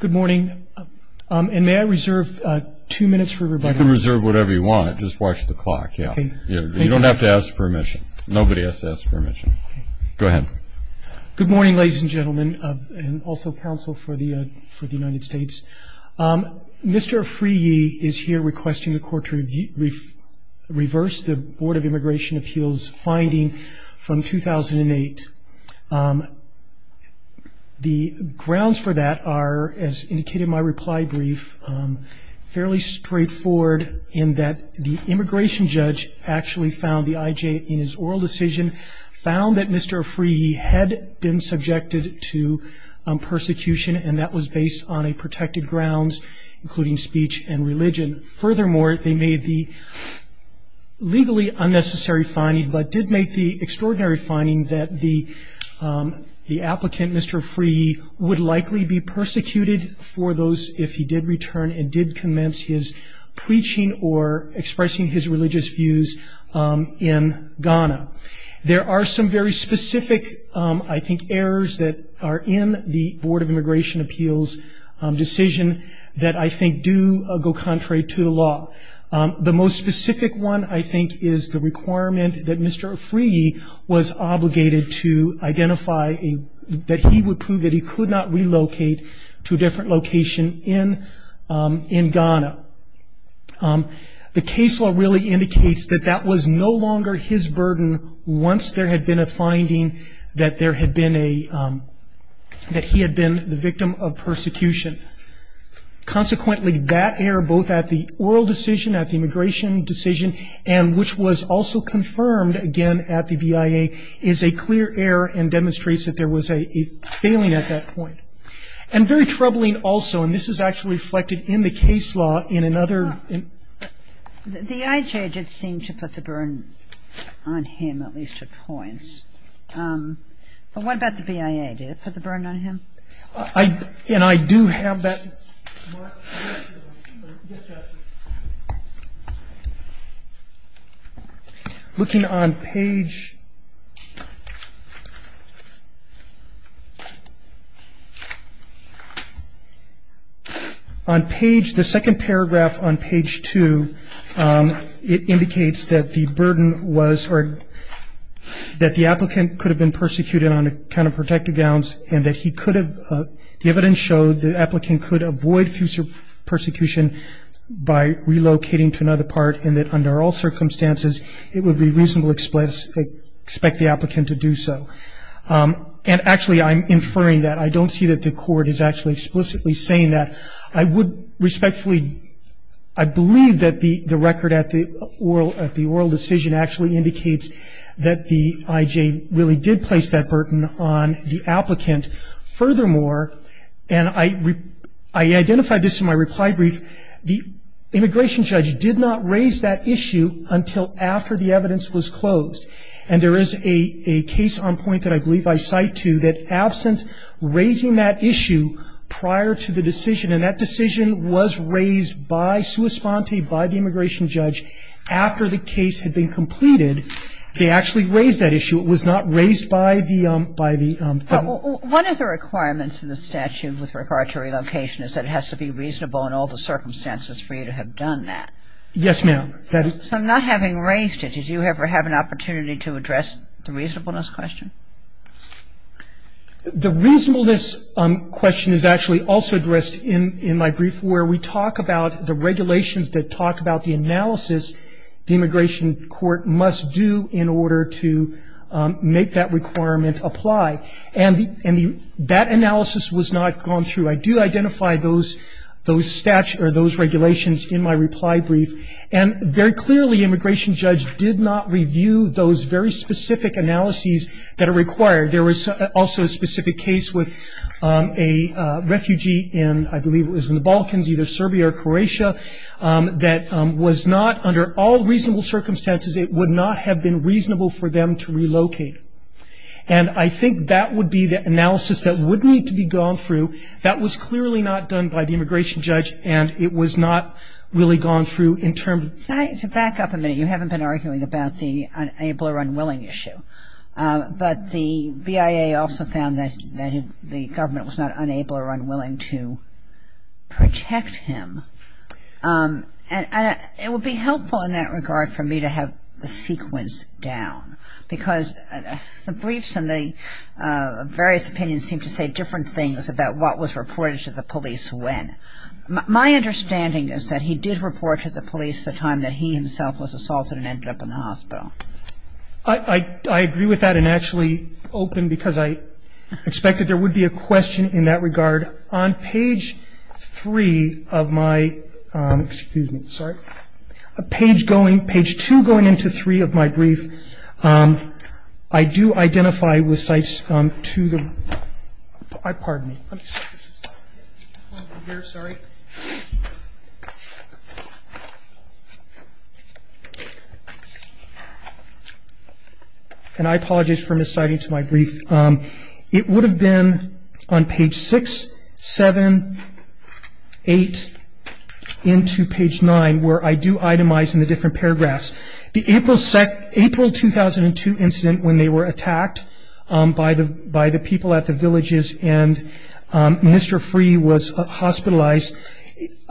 Good morning, and may I reserve two minutes for rebuttal? You can reserve whatever you want. Just watch the clock, yeah. Thank you. You don't have to ask permission. Nobody has to ask permission. Go ahead. Good morning, ladies and gentlemen, and also counsel for the United States. Mr. Afriyie is here requesting the Court to reverse the Board of Immigration Appeals finding from 2008. The grounds for that are, as indicated in my reply brief, fairly straightforward in that the immigration judge actually found the IJ in his oral decision found that Mr. Afriyie had been subjected to persecution, and that was based on a protected grounds including speech and religion. Furthermore, they made the legally unnecessary finding but did make the extraordinary finding that the applicant, Mr. Afriyie, would likely be persecuted for those if he did return and did commence his preaching or expressing his religious views in Ghana. There are some very specific, I think, errors that are in the Board of Immigration Appeals decision that I think do go contrary to the law. The most specific one, I think, is the requirement that Mr. Afriyie was obligated to identify that he would prove that he could not relocate to a different location in Ghana. The case law really indicates that that was no longer his burden once there had been a finding that there had been a, that he had been the victim of persecution. Consequently, that error, both at the oral decision, at the immigration decision, and which was also confirmed again at the BIA, is a clear error and demonstrates that there was a failing at that point. And very troubling also, and this is actually reflected in the case law in another. The IJ did seem to put the burden on him, at least at points. But what about the BIA? Did it put the burden on him? And I do have that. Yes, Justice. Looking on page, on page, the second paragraph on page two, it indicates that the burden was, or that the applicant could have been persecuted on account of protective gowns and that he could have, the evidence showed the applicant could avoid future persecution by relocating to another part and that under all circumstances it would be reasonable to expect the applicant to do so. And actually I'm inferring that. I don't see that the court is actually explicitly saying that. I would respectfully, I believe that the record at the oral decision actually indicates that the IJ really did place that burden on the applicant. Furthermore, and I identified this in my reply brief, the immigration judge did not raise that issue until after the evidence was closed. And there is a case on point that I believe I cite to that absent raising that issue prior to the decision, and that decision was raised by sua sponte, by the immigration judge, after the case had been completed, they actually raised that issue. It was not raised by the federal. One of the requirements in the statute with regard to relocation is that it has to be reasonable in all the circumstances for you to have done that. Yes, ma'am. So not having raised it, did you ever have an opportunity to address the reasonableness question? The reasonableness question is actually also addressed in my brief where we talk about the regulations that talk about the analysis the immigration court must do in order to make that requirement apply. And that analysis was not gone through. I do identify those regulations in my reply brief, and very clearly immigration judge did not review those very specific analyses that are required. There was also a specific case with a refugee in, I believe it was in the Balkans, either Serbia or Croatia, that was not, under all reasonable circumstances, it would not have been reasonable for them to relocate. And I think that would be the analysis that would need to be gone through. That was clearly not done by the immigration judge, and it was not really gone through in terms of Back up a minute. You haven't been arguing about the able or unwilling issue. But the BIA also found that the government was not unable or unwilling to protect him. And it would be helpful in that regard for me to have the sequence down, because the briefs and the various opinions seem to say different things about what was reported to the police when. My understanding is that he did report to the police the time that he himself was assaulted and ended up in the hospital. I agree with that, and actually open, because I expect that there would be a question in that regard. On page three of my, excuse me, sorry. Page going, page two going into three of my brief, I do identify with sites to the, pardon me. I'm sorry. And I apologize for misciting to my brief. It would have been on page six, seven, eight, into page nine, where I do itemize in the different paragraphs. The April 2002 incident when they were attacked by the people at the villages and Minister Freeh was hospitalized.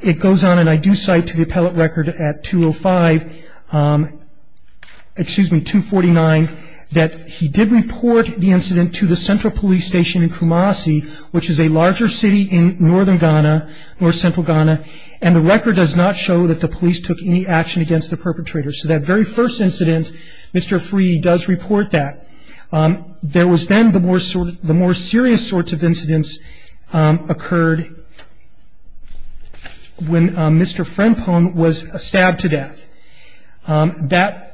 It goes on, and I do cite to the appellate record at 205, excuse me, 249, that he did report the incident to the central police station in Kumasi, which is a larger city in northern Ghana, north central Ghana. And the record does not show that the police took any action against the perpetrator. So that very first incident, Mr. Freeh does report that. There was then the more serious sorts of incidents occurred when Mr. Frenpong was stabbed to death. That,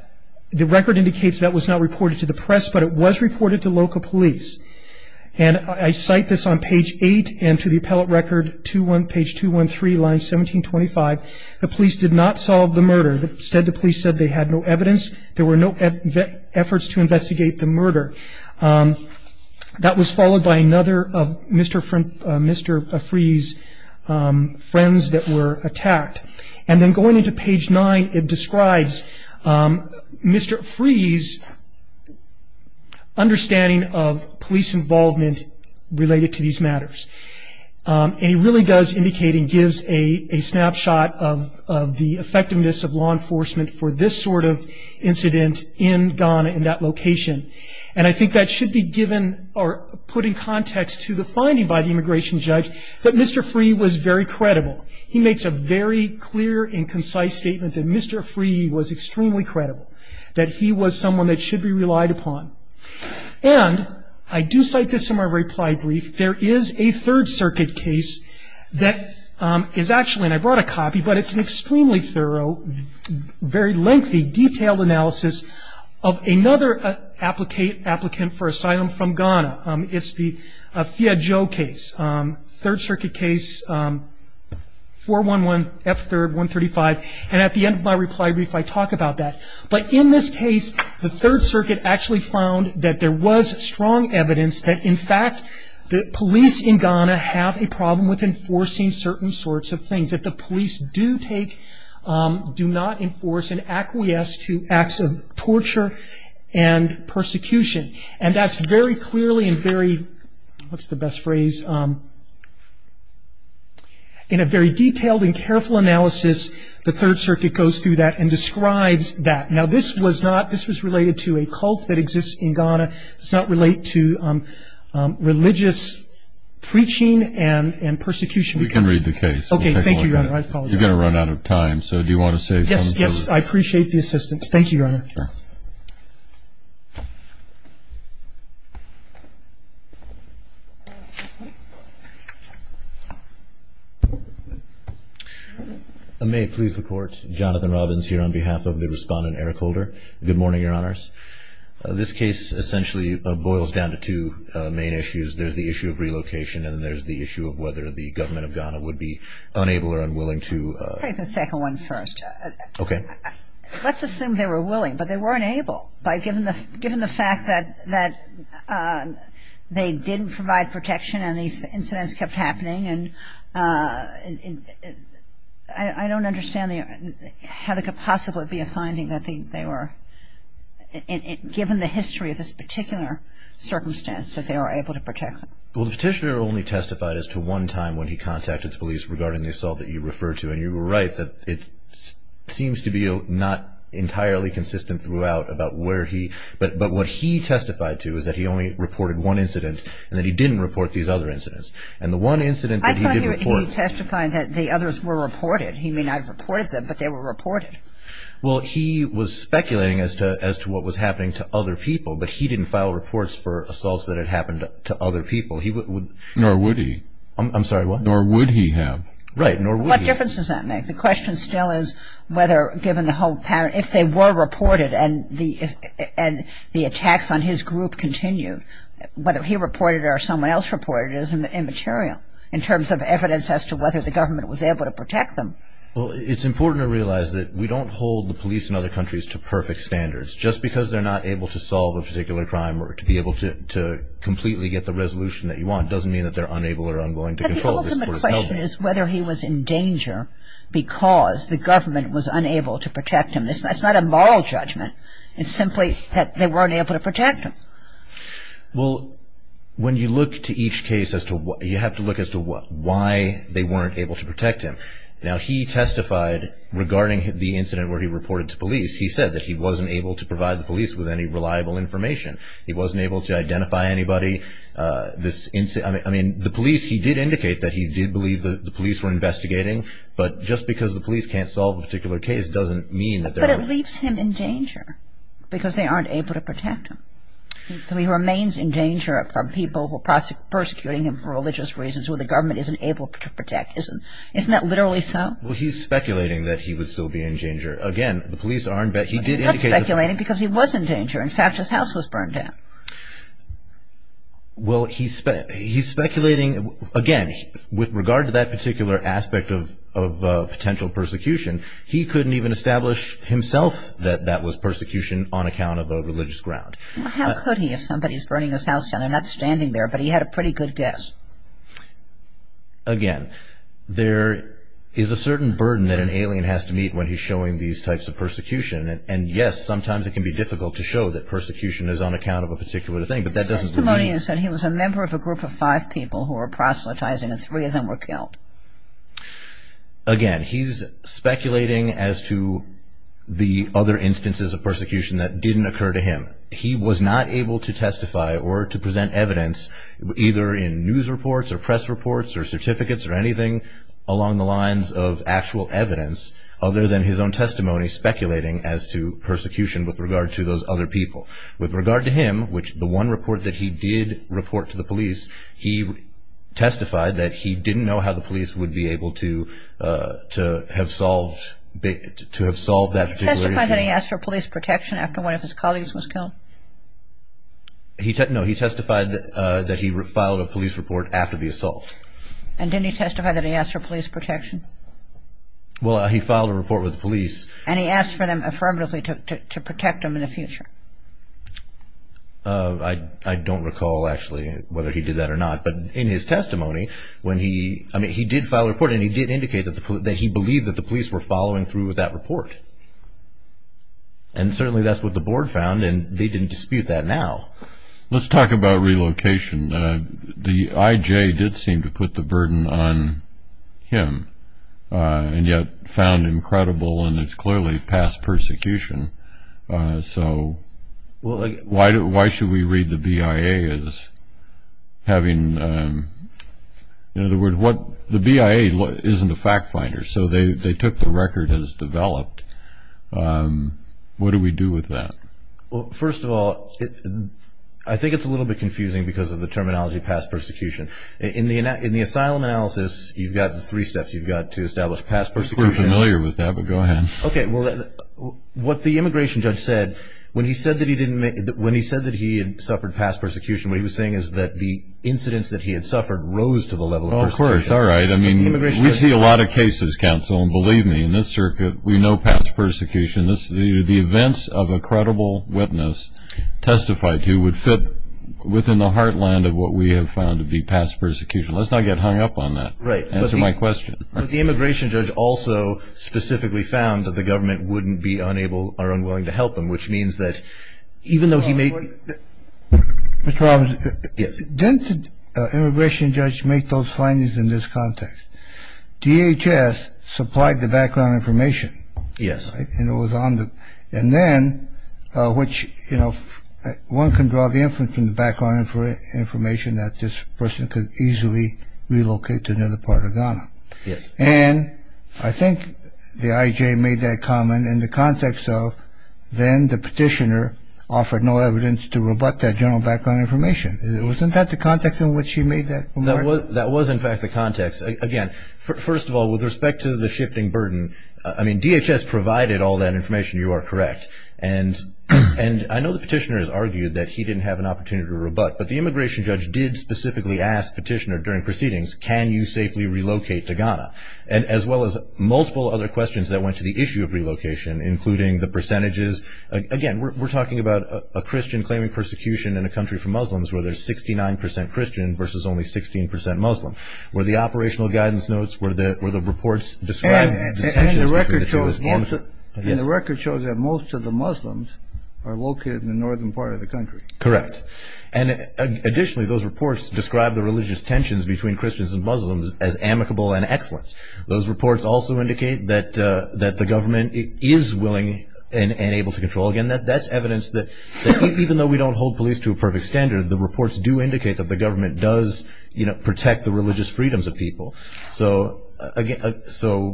the record indicates that was not reported to the press, but it was reported to local police. And I cite this on page eight and to the appellate record, page 213, line 1725. The police did not solve the murder. Instead, the police said they had no evidence. There were no efforts to investigate the murder. That was followed by another of Mr. Freeh's friends that were attacked. And then going into page nine, it describes Mr. Freeh's understanding of police involvement related to these matters. And he really does indicate and gives a snapshot of the effectiveness of law enforcement for this sort of incident in Ghana in that location. And I think that should be given or put in context to the finding by the immigration judge that Mr. Freeh was very credible. He makes a very clear and concise statement that Mr. Freeh was extremely credible, that he was someone that should be relied upon. And I do cite this in my reply brief. There is a Third Circuit case that is actually, and I brought a copy, but it's an extremely thorough, very lengthy, detailed analysis of another applicant for asylum from Ghana. It's the Fiyadjo case, Third Circuit case 411 F3rd 135. And at the end of my reply brief, I talk about that. But in this case, the Third Circuit actually found that there was strong evidence that, in fact, the police in Ghana have a problem with enforcing certain sorts of things, that the police do not enforce and acquiesce to acts of torture and persecution. And that's very clearly and very, what's the best phrase, in a very detailed and careful analysis, the Third Circuit goes through that and describes that. Now, this was not, this was related to a cult that exists in Ghana. It does not relate to religious preaching and persecution. We can read the case. Okay, thank you, Your Honor. I apologize. You're going to run out of time. So do you want to say something? Yes, yes, I appreciate the assistance. Thank you, Your Honor. Sure. May it please the Court, Jonathan Robbins here on behalf of the respondent, Eric Holder. Good morning, Your Honors. This case essentially boils down to two main issues. There's the issue of relocation and then there's the issue of whether the government of Ghana would be unable or unwilling to Take the second one first. Okay. Well, the petitioner only testified as to one time when he contacted the police regarding the assault that you referred to, and you were right that it seems to be not entirely consistent throughout the case. But what he testified to is that he only reported one incident and that he didn't report these other incidents. And the one incident that he didn't report. I thought he was testifying that the others were reported. He may not have reported them, but they were reported. Well, he was speculating as to what was happening to other people, but he didn't file reports for assaults that had happened to other people. Nor would he. I'm sorry, what? Nor would he have. Right, nor would he. What difference does that make? The question still is whether, given the whole pattern, if they were reported and the attacks on his group continued, whether he reported it or someone else reported it is immaterial in terms of evidence as to whether the government was able to protect them. Well, it's important to realize that we don't hold the police in other countries to perfect standards. Just because they're not able to solve a particular crime or to be able to completely get the resolution that you want doesn't mean that they're unable or unwilling to control it. The question is whether he was in danger because the government was unable to protect him. That's not a moral judgment. It's simply that they weren't able to protect him. Well, when you look to each case, you have to look as to why they weren't able to protect him. Now, he testified regarding the incident where he reported to police. He said that he wasn't able to provide the police with any reliable information. He wasn't able to identify anybody. I mean, the police, he did indicate that he did believe that the police were investigating, but just because the police can't solve a particular case doesn't mean that they're unable to protect him. But it leaves him in danger because they aren't able to protect him. So he remains in danger from people who are persecuting him for religious reasons who the government isn't able to protect. Isn't that literally so? Well, he's speculating that he would still be in danger. Again, the police aren't. He's not speculating because he was in danger. In fact, his house was burned down. Well, he's speculating, again, with regard to that particular aspect of potential persecution, he couldn't even establish himself that that was persecution on account of a religious ground. How could he if somebody's burning his house down? They're not standing there, but he had a pretty good guess. Again, there is a certain burden that an alien has to meet when he's showing these types of persecution, and, yes, sometimes it can be difficult to show that persecution is on account of a particular thing, but that doesn't mean he's not. The testimonian said he was a member of a group of five people who were proselytizing, and three of them were killed. Again, he's speculating as to the other instances of persecution that didn't occur to him. He was not able to testify or to present evidence either in news reports or press reports or certificates or anything along the lines of actual evidence other than his own testimony speculating as to persecution with regard to those other people. With regard to him, which the one report that he did report to the police, he testified that he didn't know how the police would be able to have solved that particular issue. Did he testify that he asked for police protection after one of his colleagues was killed? No, he testified that he filed a police report after the assault. And didn't he testify that he asked for police protection? Well, he filed a report with the police. And he asked for them affirmatively to protect him in the future. I don't recall, actually, whether he did that or not. But in his testimony, he did file a report, and he did indicate that he believed that the police were following through with that report. And certainly that's what the board found, and they didn't dispute that now. Let's talk about relocation. The IJ did seem to put the burden on him and yet found him credible, and it's clearly past persecution. So why should we read the BIA as having the BIA isn't a fact finder, so they took the record as developed. What do we do with that? Well, first of all, I think it's a little bit confusing because of the terminology past persecution. In the asylum analysis, you've got the three steps. You've got to establish past persecution. We're familiar with that, but go ahead. Okay. Well, what the immigration judge said when he said that he had suffered past persecution, what he was saying is that the incidents that he had suffered rose to the level of persecution. Oh, of course. All right. I mean, we see a lot of cases, counsel, and believe me, in this circuit, we know past persecution. The events of a credible witness testified to would fit within the heartland of what we have found to be past persecution. Let's not get hung up on that. Right. Answer my question. But the immigration judge also specifically found that the government wouldn't be unable or unwilling to help him, which means that even though he may – Mr. Robinson. Yes. Didn't the immigration judge make those findings in this context? DHS supplied the background information. Yes. And it was on the – and then, which, you know, one can draw the inference from the background information that this person could easily relocate to another part of Ghana. Yes. And I think the IJ made that comment in the context of then the petitioner offered no evidence to rebut that general background information. Wasn't that the context in which he made that remark? That was, in fact, the context. Yes. Again, first of all, with respect to the shifting burden, I mean, DHS provided all that information. You are correct. And I know the petitioner has argued that he didn't have an opportunity to rebut, but the immigration judge did specifically ask the petitioner during proceedings, can you safely relocate to Ghana, as well as multiple other questions that went to the issue of relocation, including the percentages. Again, we're talking about a Christian claiming persecution in a country for Muslims where there's 69 percent Christian versus only 16 percent Muslim, where the operational guidance notes, where the reports describe the tensions between the two. And the record shows that most of the Muslims are located in the northern part of the country. Correct. And additionally, those reports describe the religious tensions between Christians and Muslims as amicable and excellent. Those reports also indicate that the government is willing and able to control. Again, that's evidence that even though we don't hold police to a perfect standard, the reports do indicate that the government does, you know, protect the religious freedoms of people. So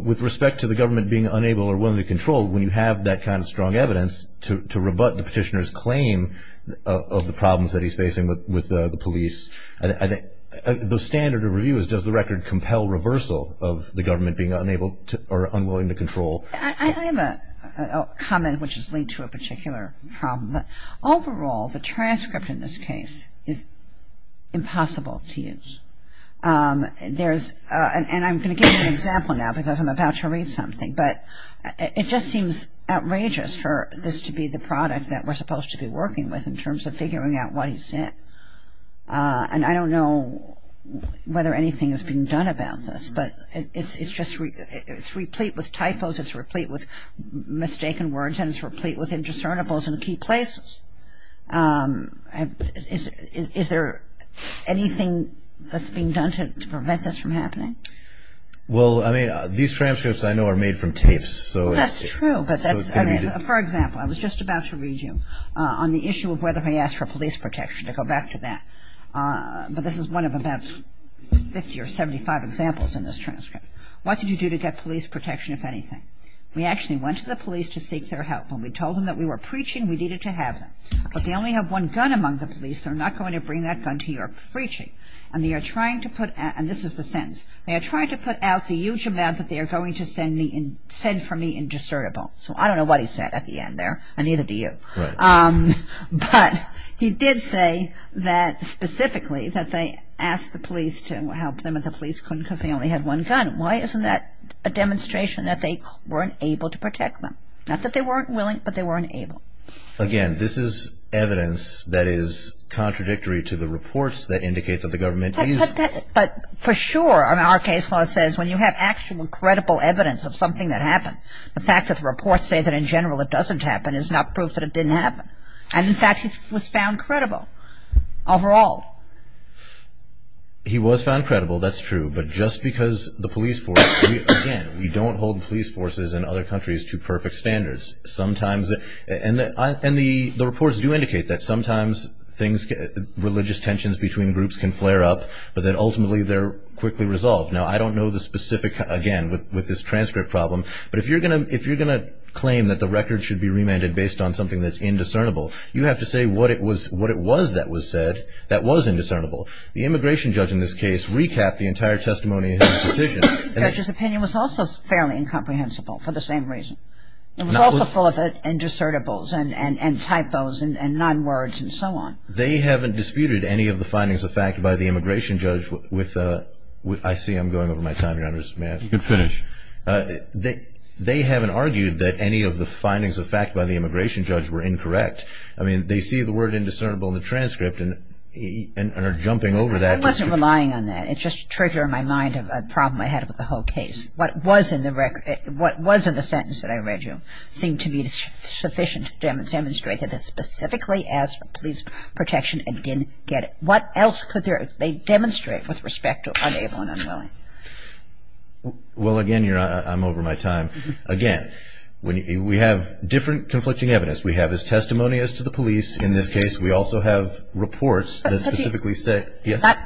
with respect to the government being unable or willing to control, when you have that kind of strong evidence to rebut the petitioner's claim of the problems that he's facing with the police, the standard of review is does the record compel reversal of the government being unable or unwilling to control. I have a comment which is linked to a particular problem. Overall, the transcript in this case is impossible to use. And I'm going to give you an example now because I'm about to read something, but it just seems outrageous for this to be the product that we're supposed to be working with in terms of figuring out what he said. And I don't know whether anything has been done about this, but it's replete with typos, it's replete with mistaken words, and it's replete with indiscernibles in key places. Is there anything that's being done to prevent this from happening? Well, I mean, these transcripts I know are made from tapes. That's true, but for example, I was just about to read you on the issue of whether he asked for police protection, to go back to that. But this is one of about 50 or 75 examples in this transcript. What did you do to get police protection, if anything? We actually went to the police to seek their help. When we told them that we were preaching, we needed to have them. But they only have one gun among the police. They're not going to bring that gun to your preaching. And they are trying to put out, and this is the sentence, they are trying to put out the huge amount that they are going to send for me indiscernible. So I don't know what he said at the end there, and neither do you. But he did say that specifically that they asked the police to help them and that the police couldn't because they only had one gun. Why isn't that a demonstration that they weren't able to protect them? Not that they weren't willing, but they weren't able. Again, this is evidence that is contradictory to the reports that indicate that the government is. But for sure, our case law says when you have actual credible evidence of something that happened, the fact that the reports say that in general it doesn't happen is not proof that it didn't happen. And in fact, he was found credible overall. He was found credible, that's true. But just because the police force, again, we don't hold police forces in other countries to perfect standards. And the reports do indicate that sometimes religious tensions between groups can flare up, but that ultimately they're quickly resolved. Now, I don't know the specific, again, with this transcript problem, but if you're going to claim that the record should be remanded based on something that's indiscernible, you have to say what it was that was said that was indiscernible. The immigration judge in this case recapped the entire testimony in his decision. Judge's opinion was also fairly incomprehensible for the same reason. It was also full of indiscernibles and typos and non-words and so on. They haven't disputed any of the findings of fact by the immigration judge with, I see I'm going over my time here, I'm just mad. You can finish. They haven't argued that any of the findings of fact by the immigration judge were incorrect. I mean, they see the word indiscernible in the transcript and are jumping over that. I wasn't relying on that. It just triggered in my mind a problem I had with the whole case. What was in the sentence that I read you seemed to be sufficient to demonstrate that it specifically asked for police protection and didn't get it. What else could they demonstrate with respect to unable and unwilling? Well, again, I'm over my time. Again, we have different conflicting evidence. We have his testimony as to the police in this case. We also have reports that specifically say.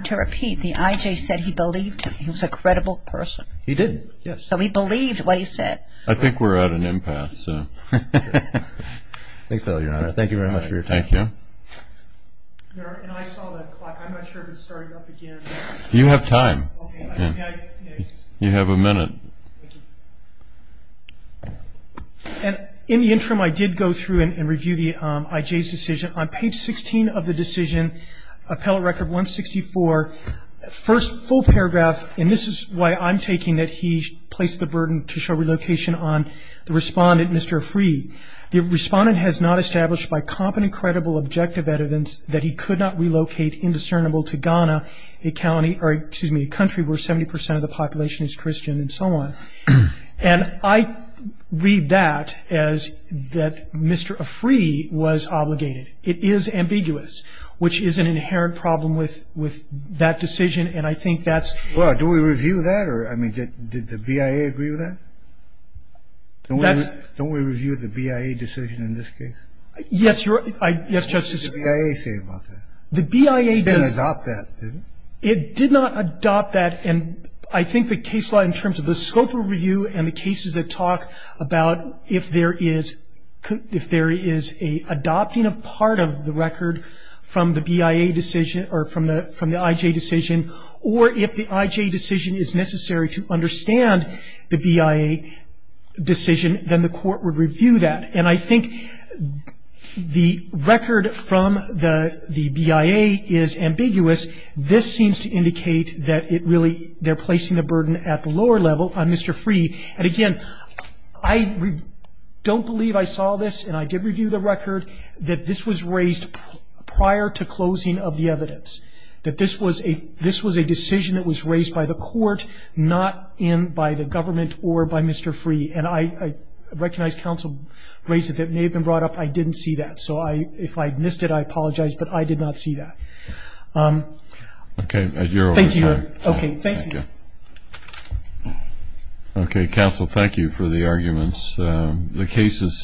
To repeat, the I.J. said he believed him. He was a credible person. He did, yes. So he believed what he said. I think we're at an impasse. Thank you very much for your time. Thank you. And I saw the clock. I'm not sure if it started up again. You have time. You have a minute. In the interim, I did go through and review the I.J.'s decision. On page 16 of the decision, appellate record 164, first full paragraph, and this is why I'm taking that he placed the burden to show relocation on the respondent, Mr. Afri. The respondent has not established by competent and credible objective evidence that he could not relocate indiscernible to Ghana, a county or, excuse me, a country where 70% of the population is Christian and so on. And I read that as that Mr. Afri was obligated. It is ambiguous, which is an inherent problem with that decision. And I think that's. Well, do we review that? Or, I mean, did the BIA agree with that? Don't we review the BIA decision in this case? Yes, Your Honor. Yes, Justice. What did the BIA say about that? The BIA. It didn't adopt that, did it? It did not adopt that. And I think the case law in terms of the scope of review and the cases that talk about if there is a adopting of part of the record from the BIA decision or from the IJ decision, or if the IJ decision is necessary to understand the BIA decision, then the court would review that. And I think the record from the BIA is ambiguous. This seems to indicate that it really they're placing the burden at the lower level on Mr. Afri. And, again, I don't believe I saw this, and I did review the record, that this was raised prior to closing of the evidence, that this was a decision that was raised by the court, not by the government or by Mr. Afri. And I recognize counsel raised it that it may have been brought up. I didn't see that. So if I missed it, I apologize, but I did not see that. Okay. Thank you, Your Honor. Okay. Thank you. Thank you. Okay. Counsel, thank you for the arguments. The case is submitted.